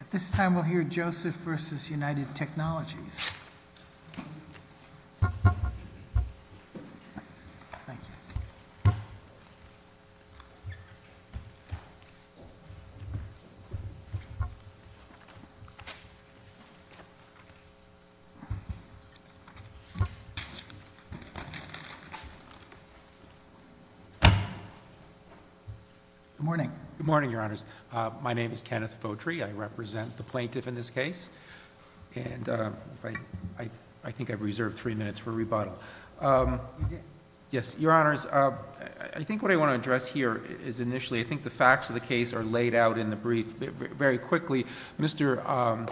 At this time we'll hear Joseph v. United Technologies. Good morning. Good morning, Your Honors. My name is Kenneth Fowtry. I represent the plaintiff in this case. I think I've reserved three minutes for rebuttal. Your Honors, I think what I want to address here is initially, I think the facts of the case are laid out in the brief. Very quickly, Mr.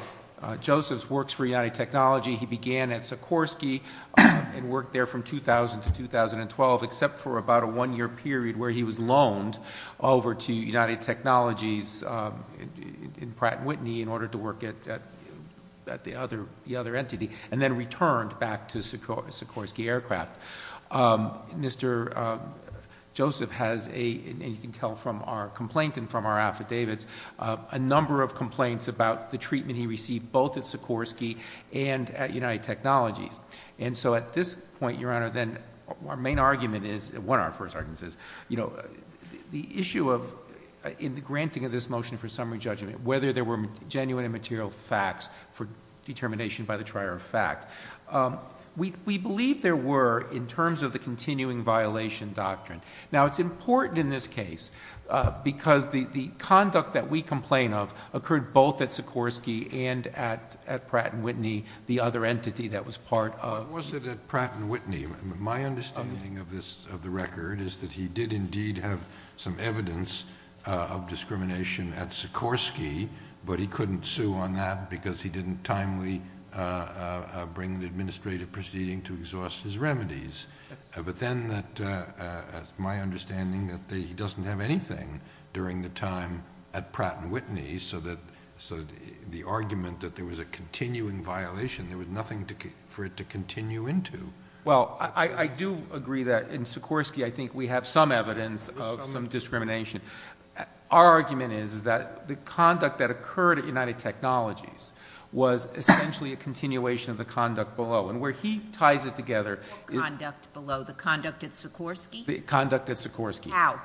Josephs works for United Technologies. He began at Sikorsky and worked there from 2000 to 2012, except for about a one-year period where he was loaned over to United Technologies in Pratt & Whitney in order to work at the other entity, and then returned back to Sikorsky Aircraft. Mr. Joseph has a, and you can tell from our complaint and from our affidavits, a number of complaints about the treatment he received both at Sikorsky and at United Technologies. So at this point, Your Honor, then our main argument is, one of our first arguments is, the issue of, in the granting of this motion for summary judgment, whether there were genuine and material facts for determination by the trier of fact. We believe there were in terms of the continuing violation doctrine. Now it's important in this case because the conduct that we complain of occurred both at Sikorsky and at Pratt & Whitney, the other entity that was part of- But was it at Pratt & Whitney? My understanding of this, of the record, is that he did indeed have some evidence of discrimination at Sikorsky, but he couldn't sue on that because he didn't timely bring an administrative proceeding to exhaust his remedies. But then that, my understanding that he doesn't have anything during the time at Pratt & Whitney, so that, the argument that there was a continuing violation, there was nothing for it to continue into- Well, I do agree that in Sikorsky, I think we have some evidence of some discrimination. Our argument is that the conduct that occurred at United Technologies was essentially a continuation of the conduct below. And where he ties it together- What conduct below? The conduct at Sikorsky? Conduct at Sikorsky. How?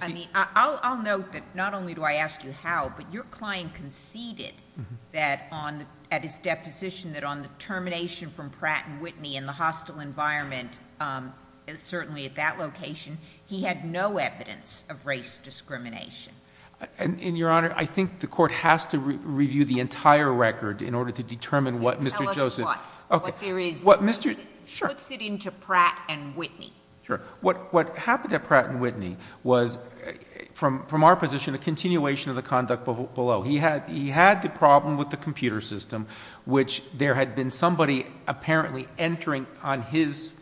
I mean, I'll note that not only do I ask you how, but your client conceded that on, at his deposition, that on the termination from Pratt & Whitney in the hostile environment, certainly at that location, he had no evidence of race discrimination. And, Your Honor, I think the Court has to review the entire record in order to determine what Mr. Joseph- Tell us what, what there is. What Mr.- Sure. What's it into Pratt & Whitney? Sure. What happened at Pratt & Whitney was, from our position, a continuation of the conduct below. He had the problem with the computer system, which there had been somebody apparently entering on his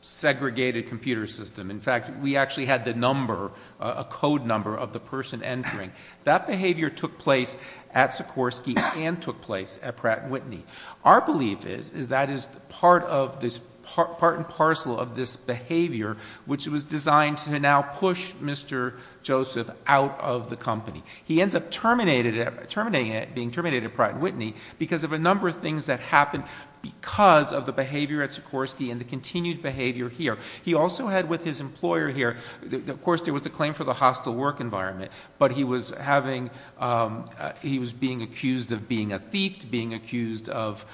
segregated computer system. In fact, we actually had the number, a code number of the person entering. That behavior took place at Sikorsky and took place at Pratt & Whitney. Our belief is, is that is part of this, part and parcel of this behavior, which was designed to now push Mr. Joseph out of the company. He ends up terminating, terminating it, being terminated at Pratt & Whitney because of a number of things that happened because of the behavior at Sikorsky and the continued behavior here. He also had with his employer here, of course, there was the claim for the hostile work environment, but he was having, he was being accused of being a thief, being accused of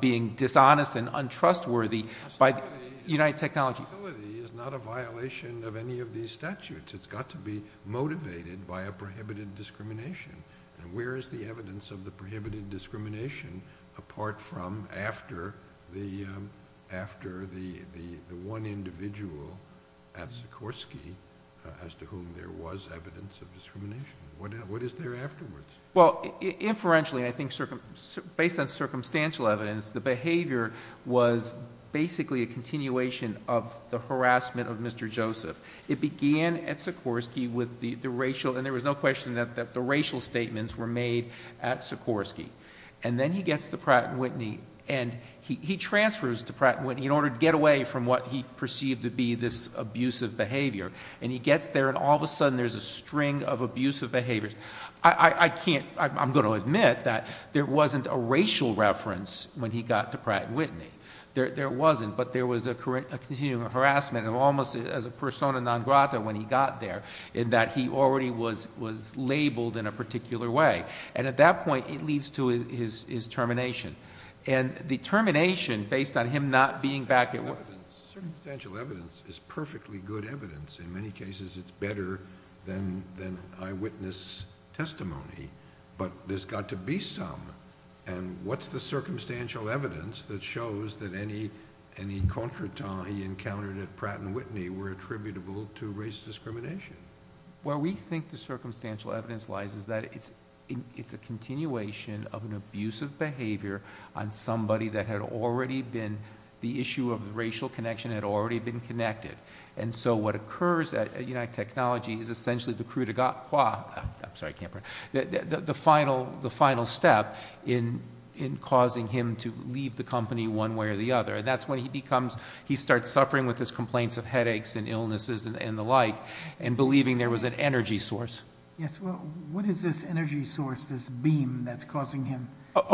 being dishonest and untrustworthy by Unite Technology. Absolutely, it's not a violation of any of these statutes. It's got to be motivated by a prohibited discrimination. And where is the evidence of the prohibited discrimination apart from after the, after the, the, the one individual at Sikorsky as to whom there was evidence of discrimination? What is there afterwards? Well, inferentially, I think based on circumstantial evidence, the behavior was basically a continuation of the harassment of Mr. Joseph. It began at Sikorsky with the racial, and there was no question that the racial statements were made at Sikorsky. And then he gets to Pratt & Whitney and he transfers to Pratt & Whitney in order to get away from what he perceived to be this abusive behavior. And he gets there and all of a sudden there's a string of abusive behaviors. I, I can't, I'm going to admit that there wasn't a racial reference when he got to Pratt & Whitney. There, there wasn't, but there was a continuing harassment of almost as a persona non grata when he got there in that he already was, was labeled in a particular way. And at that point it leads to his, his termination. And the termination based on him not being back at work. Circumstantial evidence is perfectly good evidence. In many cases, it's better than, than eyewitness testimony, but there's got to be some. And what's the circumstantial evidence that shows that any, any contretemps he encountered at Pratt & Whitney were attributable to race discrimination? Where we think the circumstantial evidence lies is that it's, it's a continuation of an abusive behavior on somebody that had already been, the issue of the racial connection had already been connected. And so what occurs at, at United Technology is essentially the cru de ga, qua, I'm sorry, I can't pronounce it, the, the, the final, the final step in, in causing him to leave the company one way or the other. And that's when he becomes, he starts suffering with his complaints of headaches and illnesses and the like and believing there was an energy source. Yes. Well, what is this energy source, this beam that's causing him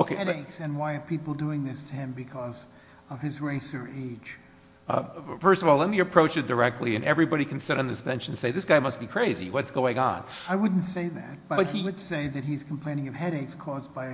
headaches and why are people doing this to him because of his race or age? First of all, let me approach it directly and everybody can sit on this bench and say, this guy must be crazy. What's going on? I wouldn't say that, but I would say that he's complaining of headaches caused by a,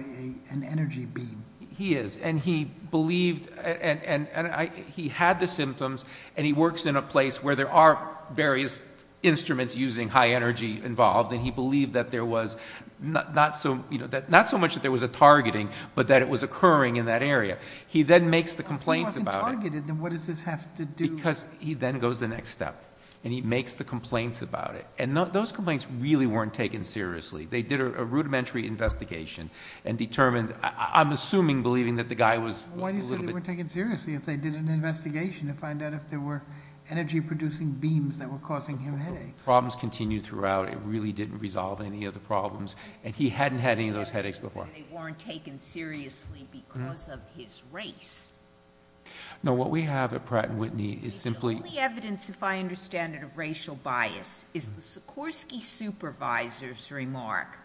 an energy beam. He is. And he believed, and, and, and I, he had the symptoms and he works in a place where there are various instruments using high energy involved. And he believed that there was not, not so, you know, that not so much that there was a targeting, but that it was occurring in that area. He then makes the complaints about it. If he wasn't targeted, then what does this have to do? Because he then goes the next step and he makes the complaints about it. And those complaints really weren't taken seriously. They did a rudimentary investigation and determined, I'm assuming, believing that the guy was, was a little bit. Why do you say they weren't taken seriously if they did an investigation to find out if there were energy producing beams that were causing him headaches? Problems continued throughout. It really didn't resolve any of the problems. And he hadn't had any of those headaches before. Why do you say they weren't taken seriously because of his race? No, what we have at Pratt & Whitney is simply... The only evidence, if I understand it, of racial bias is the Sikorsky supervisor's remark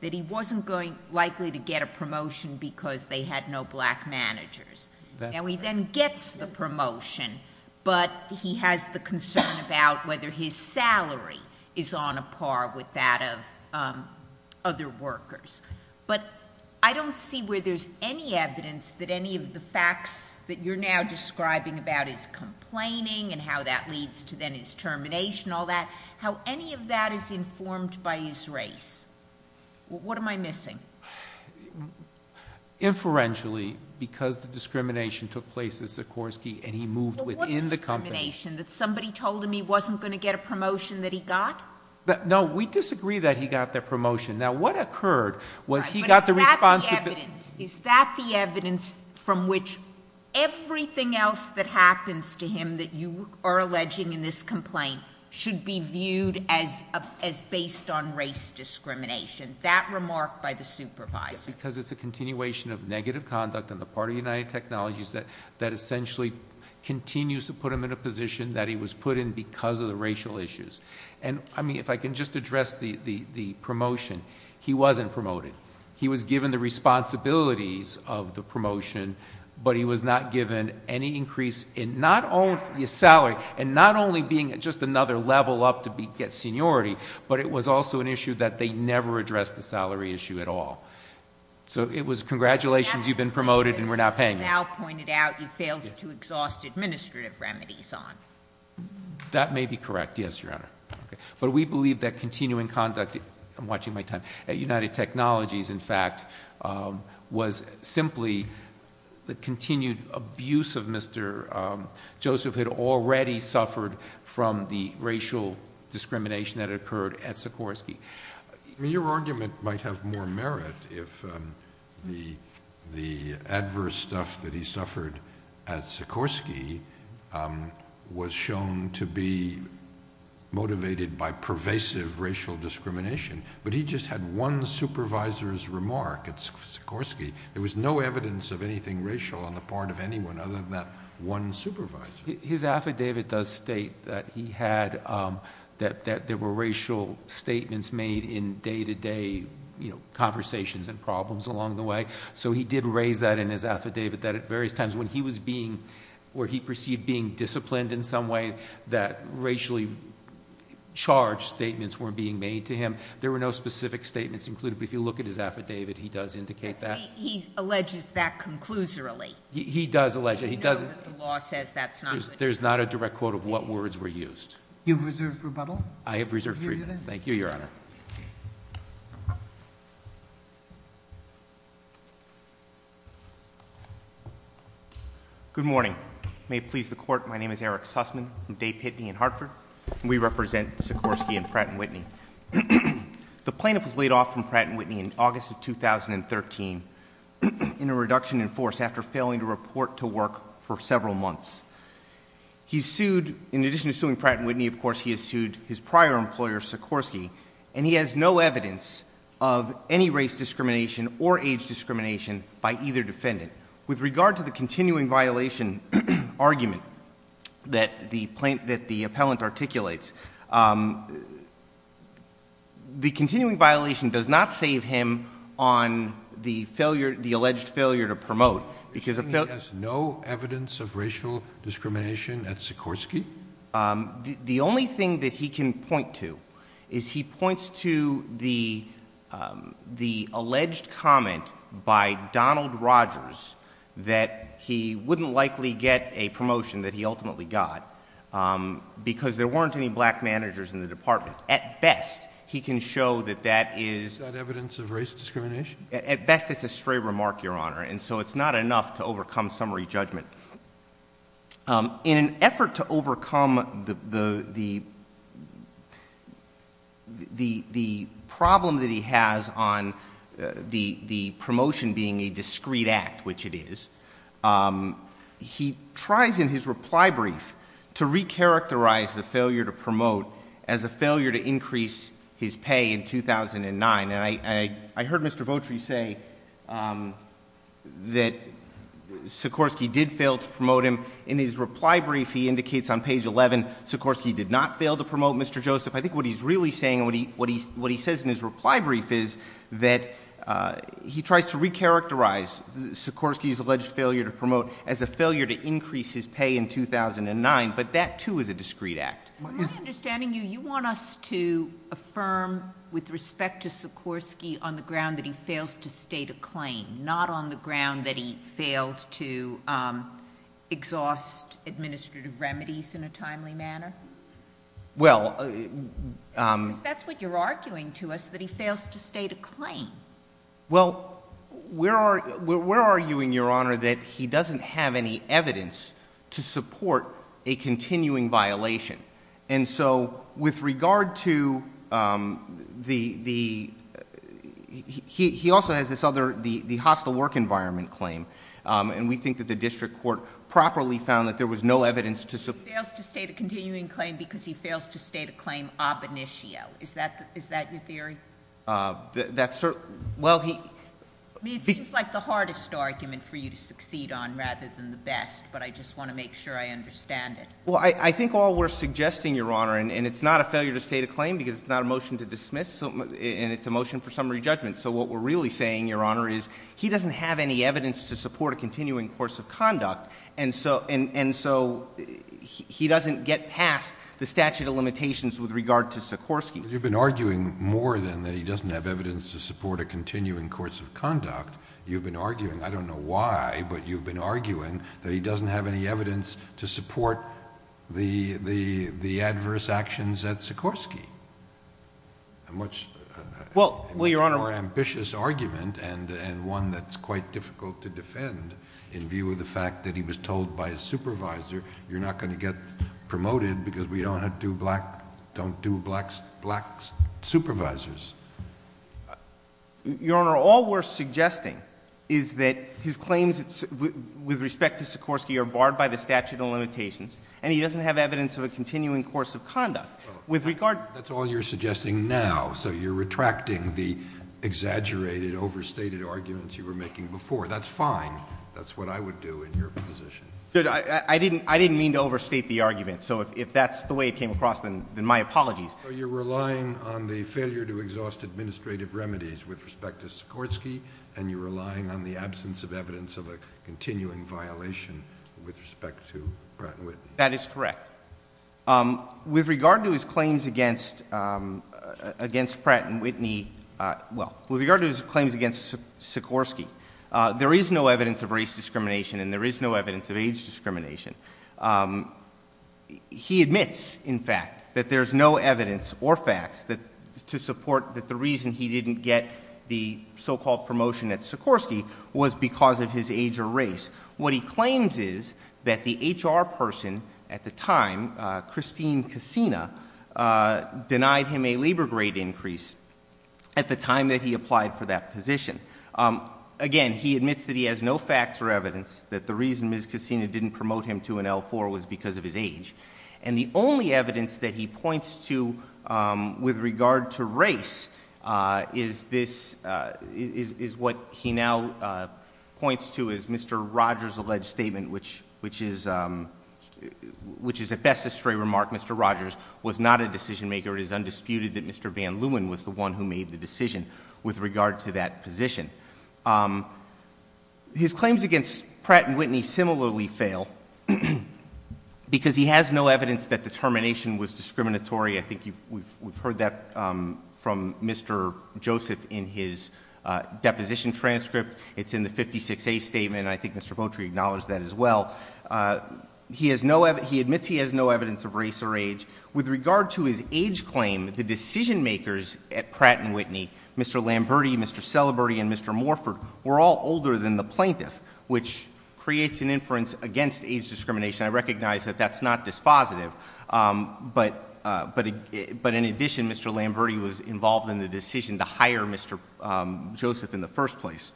that he wasn't going, likely to get a promotion because they had no black managers. That's right. But he has the concern about whether his salary is on a par with that of other workers. But I don't see where there's any evidence that any of the facts that you're now describing about his complaining and how that leads to then his termination, all that, how any of that is informed by his race. What am I missing? Inferentially, because the discrimination took place at Sikorsky and he moved within But what discrimination? That somebody told him he wasn't going to get a promotion that he got? No, we disagree that he got that promotion. Now, what occurred was he got the response of... But is that the evidence? Is that the evidence from which everything else that happens to him that you are alleging in this complaint should be viewed as based on race discrimination? That remark by the supervisor. Because it's a continuation of negative conduct on the part of United Technologies that essentially continues to put him in a position that he was put in because of the racial issues. And I mean, if I can just address the promotion, he wasn't promoted. He was given the responsibilities of the promotion, but he was not given any increase in not only his salary and not only being at just another level up to get seniority, but it was also an issue that they never addressed. The salary issue at all. So it was congratulations, you've been promoted and we're not paying you. Now pointed out, you failed to exhaust administrative remedies on. That may be correct. Yes, Your Honor. But we believe that continuing conduct, I'm watching my time, at United Technologies, in fact, was simply the continued abuse of Mr. Joseph had already suffered from the racial discrimination that occurred at Sikorsky. I mean, your argument might have more merit if the adverse stuff that he suffered at Sikorsky was shown to be motivated by pervasive racial discrimination. But he just had one supervisor's remark at Sikorsky. There was no evidence of anything racial on the part of anyone other than that one supervisor. His affidavit does state that he had, that there were racial statements made in day to day conversations and problems along the way. So he did raise that in his affidavit that at various times when he was being, or he perceived being disciplined in some way that racially charged statements were being made to him, there were no specific statements included. But if you look at his affidavit, he does indicate that. He alleges that conclusorily. He does allege that. He doesn't, there's not a direct quote of what words were used. You've reserved rebuttal? I have reserved freedom. Thank you, Your Honor. Good morning. May it please the Court. My name is Eric Sussman. I'm Dave Pitney in Hartford. We represent Sikorsky and Pratt & Whitney. The plaintiff was laid off from Pratt & Whitney in August of 2013 in a reduction in force after failing to report to work for several months. He's sued, in addition to suing Pratt & Whitney, of course, he has sued his prior employer, Sikorsky, and he has no evidence of any race discrimination or age discrimination by either defendant. With regard to the continuing violation argument that the plaintiff, that the appellant articulates, the continuing violation does not save him on the failure, the alleged failure to promote, because the failure... You're saying he has no evidence of racial discrimination at Sikorsky? The only thing that he can point to is he points to the alleged comment by Donald Rogers that he wouldn't likely get a promotion that he ultimately got, because there weren't any black managers in the department. At best, he can show that that is... Is that evidence of race discrimination? At best, it's a stray remark, Your Honor, and so it's not enough to overcome summary judgment. In an effort to overcome the problem that he has on the promotion being a discreet act, which it is, he tries in his reply brief to re-characterize the failure to promote as a failure to increase his pay in 2009. And I heard Mr. Votri say that Sikorsky did fail to promote him. In his reply brief, he indicates on page 11, Sikorsky did not fail to promote Mr. Joseph. I think what he's really saying and what he says in his reply brief is that he tries to re-characterize Sikorsky's alleged failure to promote as a failure to increase his pay in 2009, but that, too, is a discreet act. From my understanding, you want us to affirm, with respect to Sikorsky, on the ground that he fails to state a claim, not on the ground that he failed to exhaust administrative remedies in a timely manner? Well, um... Because that's what you're arguing to us, that he fails to state a claim. Well, we're arguing, Your Honor, that he doesn't have any evidence to support a continuing violation. And so, with regard to the... He also has this other, the hostile work environment claim, and we think that the district court properly found that there was no evidence to support... He fails to state a continuing claim because he fails to state a claim ab initio. Is that your theory? That's certainly... Well, he... I mean, it seems like the hardest argument for you to succeed on, rather than the best, but I just want to make sure I understand it. Well, I think all we're suggesting, Your Honor, and it's not a failure to state a claim because it's not a motion to dismiss, and it's a motion for summary judgment. So what we're really saying, Your Honor, is he doesn't have any evidence to support a continuing course of conduct, and so he doesn't get past the statute of limitations with regard to Sikorsky. You've been arguing more than that he doesn't have evidence to support a continuing course of conduct. You've been arguing, I don't know why, but you've been arguing that he doesn't have any evidence to support the adverse actions at Sikorsky, a much more ambitious argument and one that's quite difficult to defend in view of the fact that he was told by his supervisor, you're not going to get promoted because we don't do black supervisors. Your Honor, all we're suggesting is that his claims with respect to Sikorsky are barred by the statute of limitations, and he doesn't have evidence of a continuing course of conduct. That's all you're suggesting now, so you're retracting the exaggerated, overstated arguments you were making before. That's fine. That's what I would do in your position. I didn't mean to overstate the argument, so if that's the way it came across, then my apologies. So you're relying on the failure to exhaust administrative remedies with respect to Sikorsky, and you're relying on the absence of evidence of a continuing violation with respect to Pratt & Whitney. That is correct. With regard to his claims against Pratt & Whitney, well, with regard to his claims against Sikorsky, there is no evidence of race discrimination and there is no evidence or facts to support that the reason he didn't get the so-called promotion at Sikorsky was because of his age or race. What he claims is that the HR person at the time, Christine Cassina, denied him a labor grade increase at the time that he applied for that position. Again, he admits that he has no facts or evidence that the reason Ms. Cassina didn't promote him to an L4 was because of his age. And the only evidence that he points to with regard to race is what he now points to as Mr. Rogers' alleged statement, which is at best a stray remark. Mr. Rogers was not a decision maker. It is undisputed that Mr. Van Leeuwen was the one who made the decision with regard to that position. His claims against Pratt & Whitney similarly fail because he has no evidence that the termination was discriminatory. I think we've heard that from Mr. Joseph in his deposition transcript. It's in the 56A statement. I think Mr. Votri acknowledged that as well. He admits he has no evidence of race or age. With regard to his age claim, the decision makers at Pratt & Whitney, Mr. Lamberti, Mr. Celebrity, and Mr. Morford, were all older than the plaintiff, which creates an inference against age discrimination. I recognize that that's not dispositive. But in addition, Mr. Lamberti was involved in the decision to hire Mr. Joseph in the first place.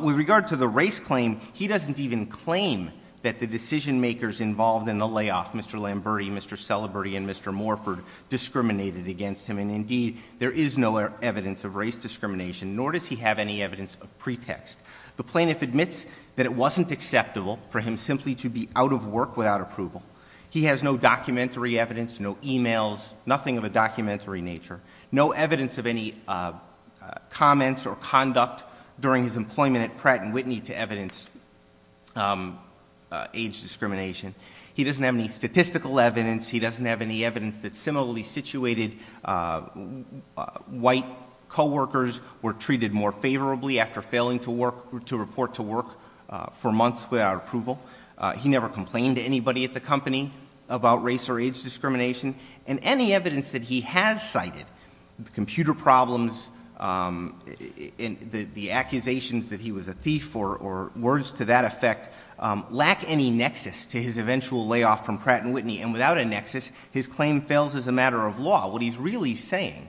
With regard to the race claim, he doesn't even claim that the decision makers involved in the layoff, Mr. Lamberti, Mr. Celebrity, and Mr. Morford, discriminated against him. And indeed, there is no evidence of race discrimination, nor does he have any evidence of pretext. The plaintiff admits that it wasn't acceptable for him simply to be out of work without approval. He has no documentary evidence, no e-mails, nothing of a documentary nature. No evidence of any comments or conduct during his employment at Pratt & Whitney to evidence age discrimination. He doesn't have any statistical evidence. He doesn't have any evidence that similarly situated white co-workers were treated more favorably after failing to work, to report to work for months without approval. He never complained to anybody at the company about race or age discrimination. And any evidence that he has cited, computer problems, and the accusations that he was a thief, or words to that effect, lack any nexus to his eventual layoff from Pratt & Whitney. And without a nexus, his claim fails as a matter of law. What he's really saying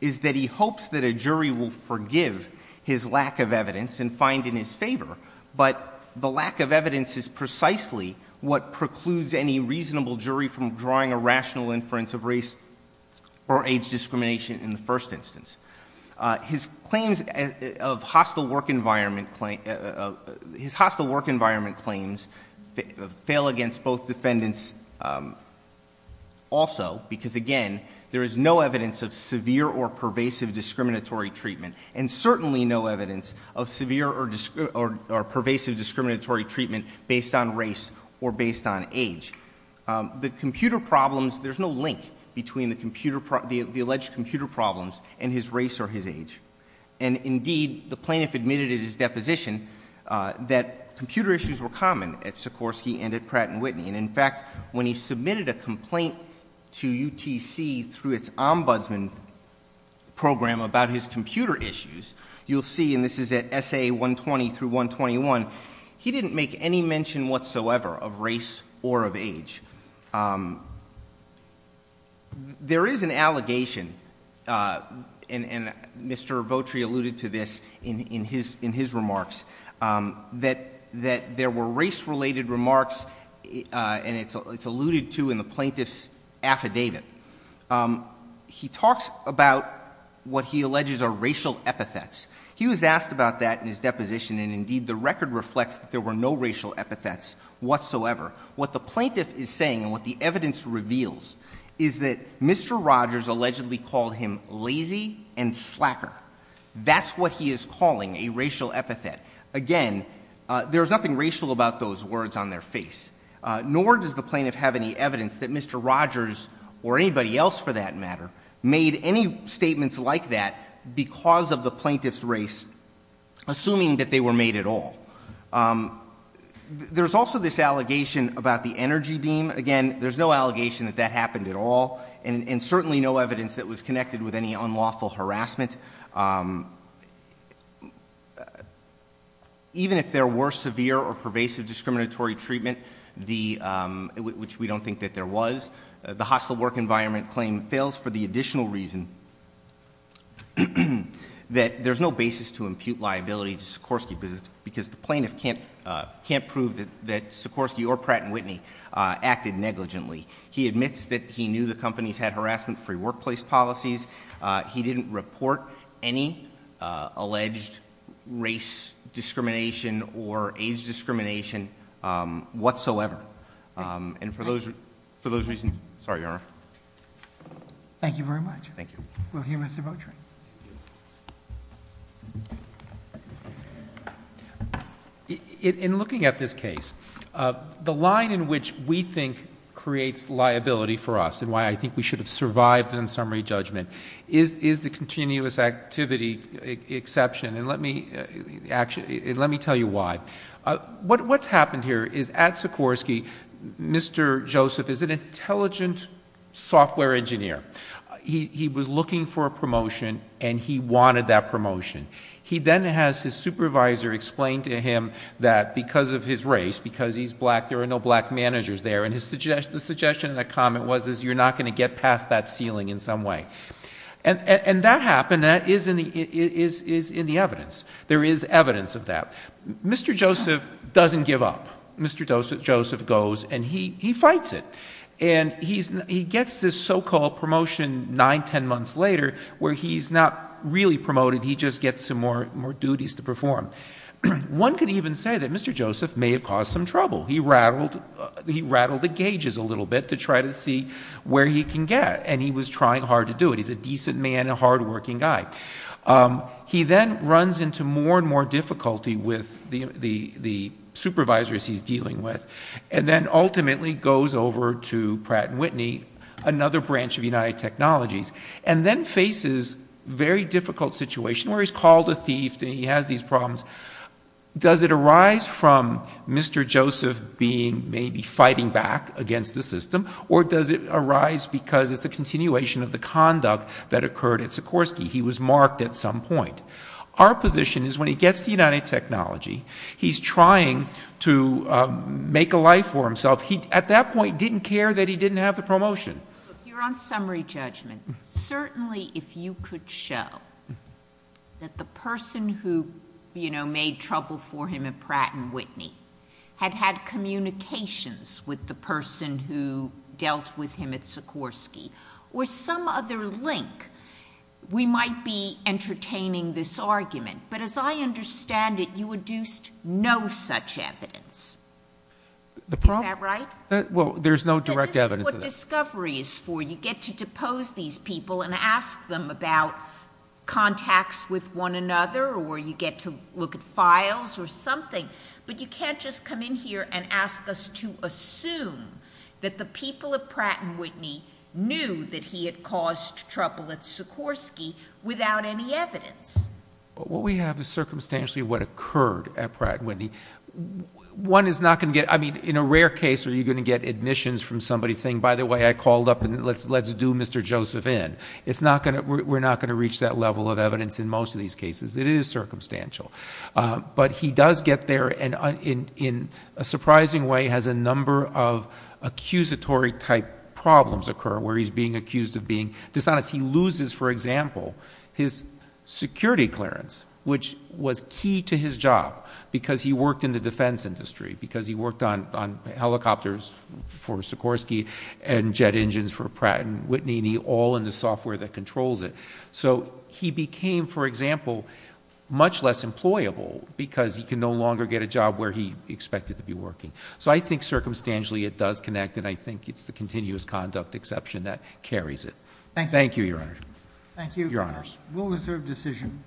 is that he hopes that a jury will forgive his lack of evidence and find in his favor. But the lack of evidence is precisely what precludes any reasonable jury from drawing a rational inference of race or age discrimination in the first instance. His claims of hostile work environment, his hostile work environment claims fail against both defendants also, because again, there is no evidence of severe or pervasive discriminatory treatment, and certainly no evidence of severe or pervasive discriminatory treatment based on race or based on age. The computer problems, there's no link between the alleged computer problems and his race or his age. And indeed, the plaintiff admitted in his deposition that computer issues were common at Sikorsky and at Pratt & Whitney. And in fact, when he submitted a complaint to UTC through its ombudsman program about his computer issues, you'll see, and this is at SA 120 through 121, he didn't make any mention whatsoever of race or of age. There is an allegation, and Mr. Votri alluded to this in his remarks, that there were race-related remarks, and it's alluded to in the plaintiff's affidavit. He talks about what he alleges are racial epithets. He was asked about that in his deposition, and indeed, the record reflects that there were no racial epithets whatsoever. What the plaintiff is saying and what the evidence reveals is that Mr. Rogers allegedly called him lazy and slacker. That's what he is calling a racial epithet. Again, there's nothing racial about those words on their face, nor does the plaintiff have any evidence that Mr. Rogers, or anybody else for that matter, made any statements like that because of the plaintiff's race, assuming that they were made at all. There's also this allegation about the energy beam. Again, there's no allegation that that happened at all, and certainly no evidence that was connected with any unlawful harassment. Even if there were severe or pervasive discriminatory treatment, which we don't think that there was, the hostile work environment claim fails for the additional reason that there's no basis to impute liability to Sikorsky because the plaintiff can't prove that Sikorsky or Pratt & Whitney acted negligently. He admits that he knew the companies had harassment-free workplace policies. He didn't report any alleged race discrimination or age discrimination whatsoever. And for those reasons, sorry, Your Honor. Thank you very much. Thank you. We'll hear Mr. Votry. In looking at this case, the line in which we think creates liability for us, and why I think we should have survived an unsummary judgment, is the continuous activity exception, and let me tell you why. What's happened here is at Sikorsky, Mr. Joseph is an intelligent software engineer. He was looking for a promotion, and he wanted that promotion. He then has his supervisor explain to him that because of his race, because he's black, there are no black managers there, and the suggestion in that comment was, is you're not going to get past that ceiling in some way. And that happened, and that is in the evidence. There is evidence of that. Mr. Joseph doesn't give up. Mr. Joseph goes, and he fights it. And he gets this so-called promotion nine, ten months later, where he's not really promoted. He just gets some more duties to perform. One could even say that Mr. Joseph may have caused some trouble. He rattled the gauges a little bit to try to see where he can get, and he was trying hard to do it. He's a decent man and a hardworking guy. He then runs into more and more difficulty with the supervisors he's dealing with, and then ultimately goes over to Pratt & Whitney, another branch of United Technologies, and then faces a very difficult situation where he's called a thief, and he has these problems. Does it arise from Mr. Joseph being, maybe fighting back against the system, or does it arise because it's a continuation of the conduct that occurred at Sikorsky? He was marked at some point. Our position is, when he gets to United Technology, he's trying to make a life for himself. He, at that point, didn't care that he didn't have the promotion. Look, you're on summary judgment. Certainly, if you could show that the person who, you know, made trouble for him at Pratt & Whitney had had communications with the person who made this argument, but as I understand it, you induced no such evidence. Is that right? Well, there's no direct evidence of it. But this is what discovery is for. You get to depose these people and ask them about contacts with one another, or you get to look at files or something, but you can't just come in here and ask us to assume that the people at Pratt & Whitney knew that he had caused trouble at Sikorsky without any evidence. What we have is circumstantially what occurred at Pratt & Whitney. One is not going to get – I mean, in a rare case, are you going to get admissions from somebody saying, by the way, I called up and let's do Mr. Joseph in? It's not going to – we're not going to reach that level of evidence in most of these cases. It is circumstantial. But he does get there, and in a surprising way, has a number of accusatory-type problems occur where he's being accused of being dishonest. He loses, for example, his security clearance, which was key to his job because he worked in the defense industry, because he worked on helicopters for Sikorsky and jet engines for Pratt & Whitney, all in the software that controls it. So he became, for example, much less employable because he could no longer get a job where he expected to be working. So I think circumstantially it does connect, and I think it's the continuous conduct exception that carries it. Thank you. Thank you, Your Honor. Thank you. Your Honors. We'll reserve decision.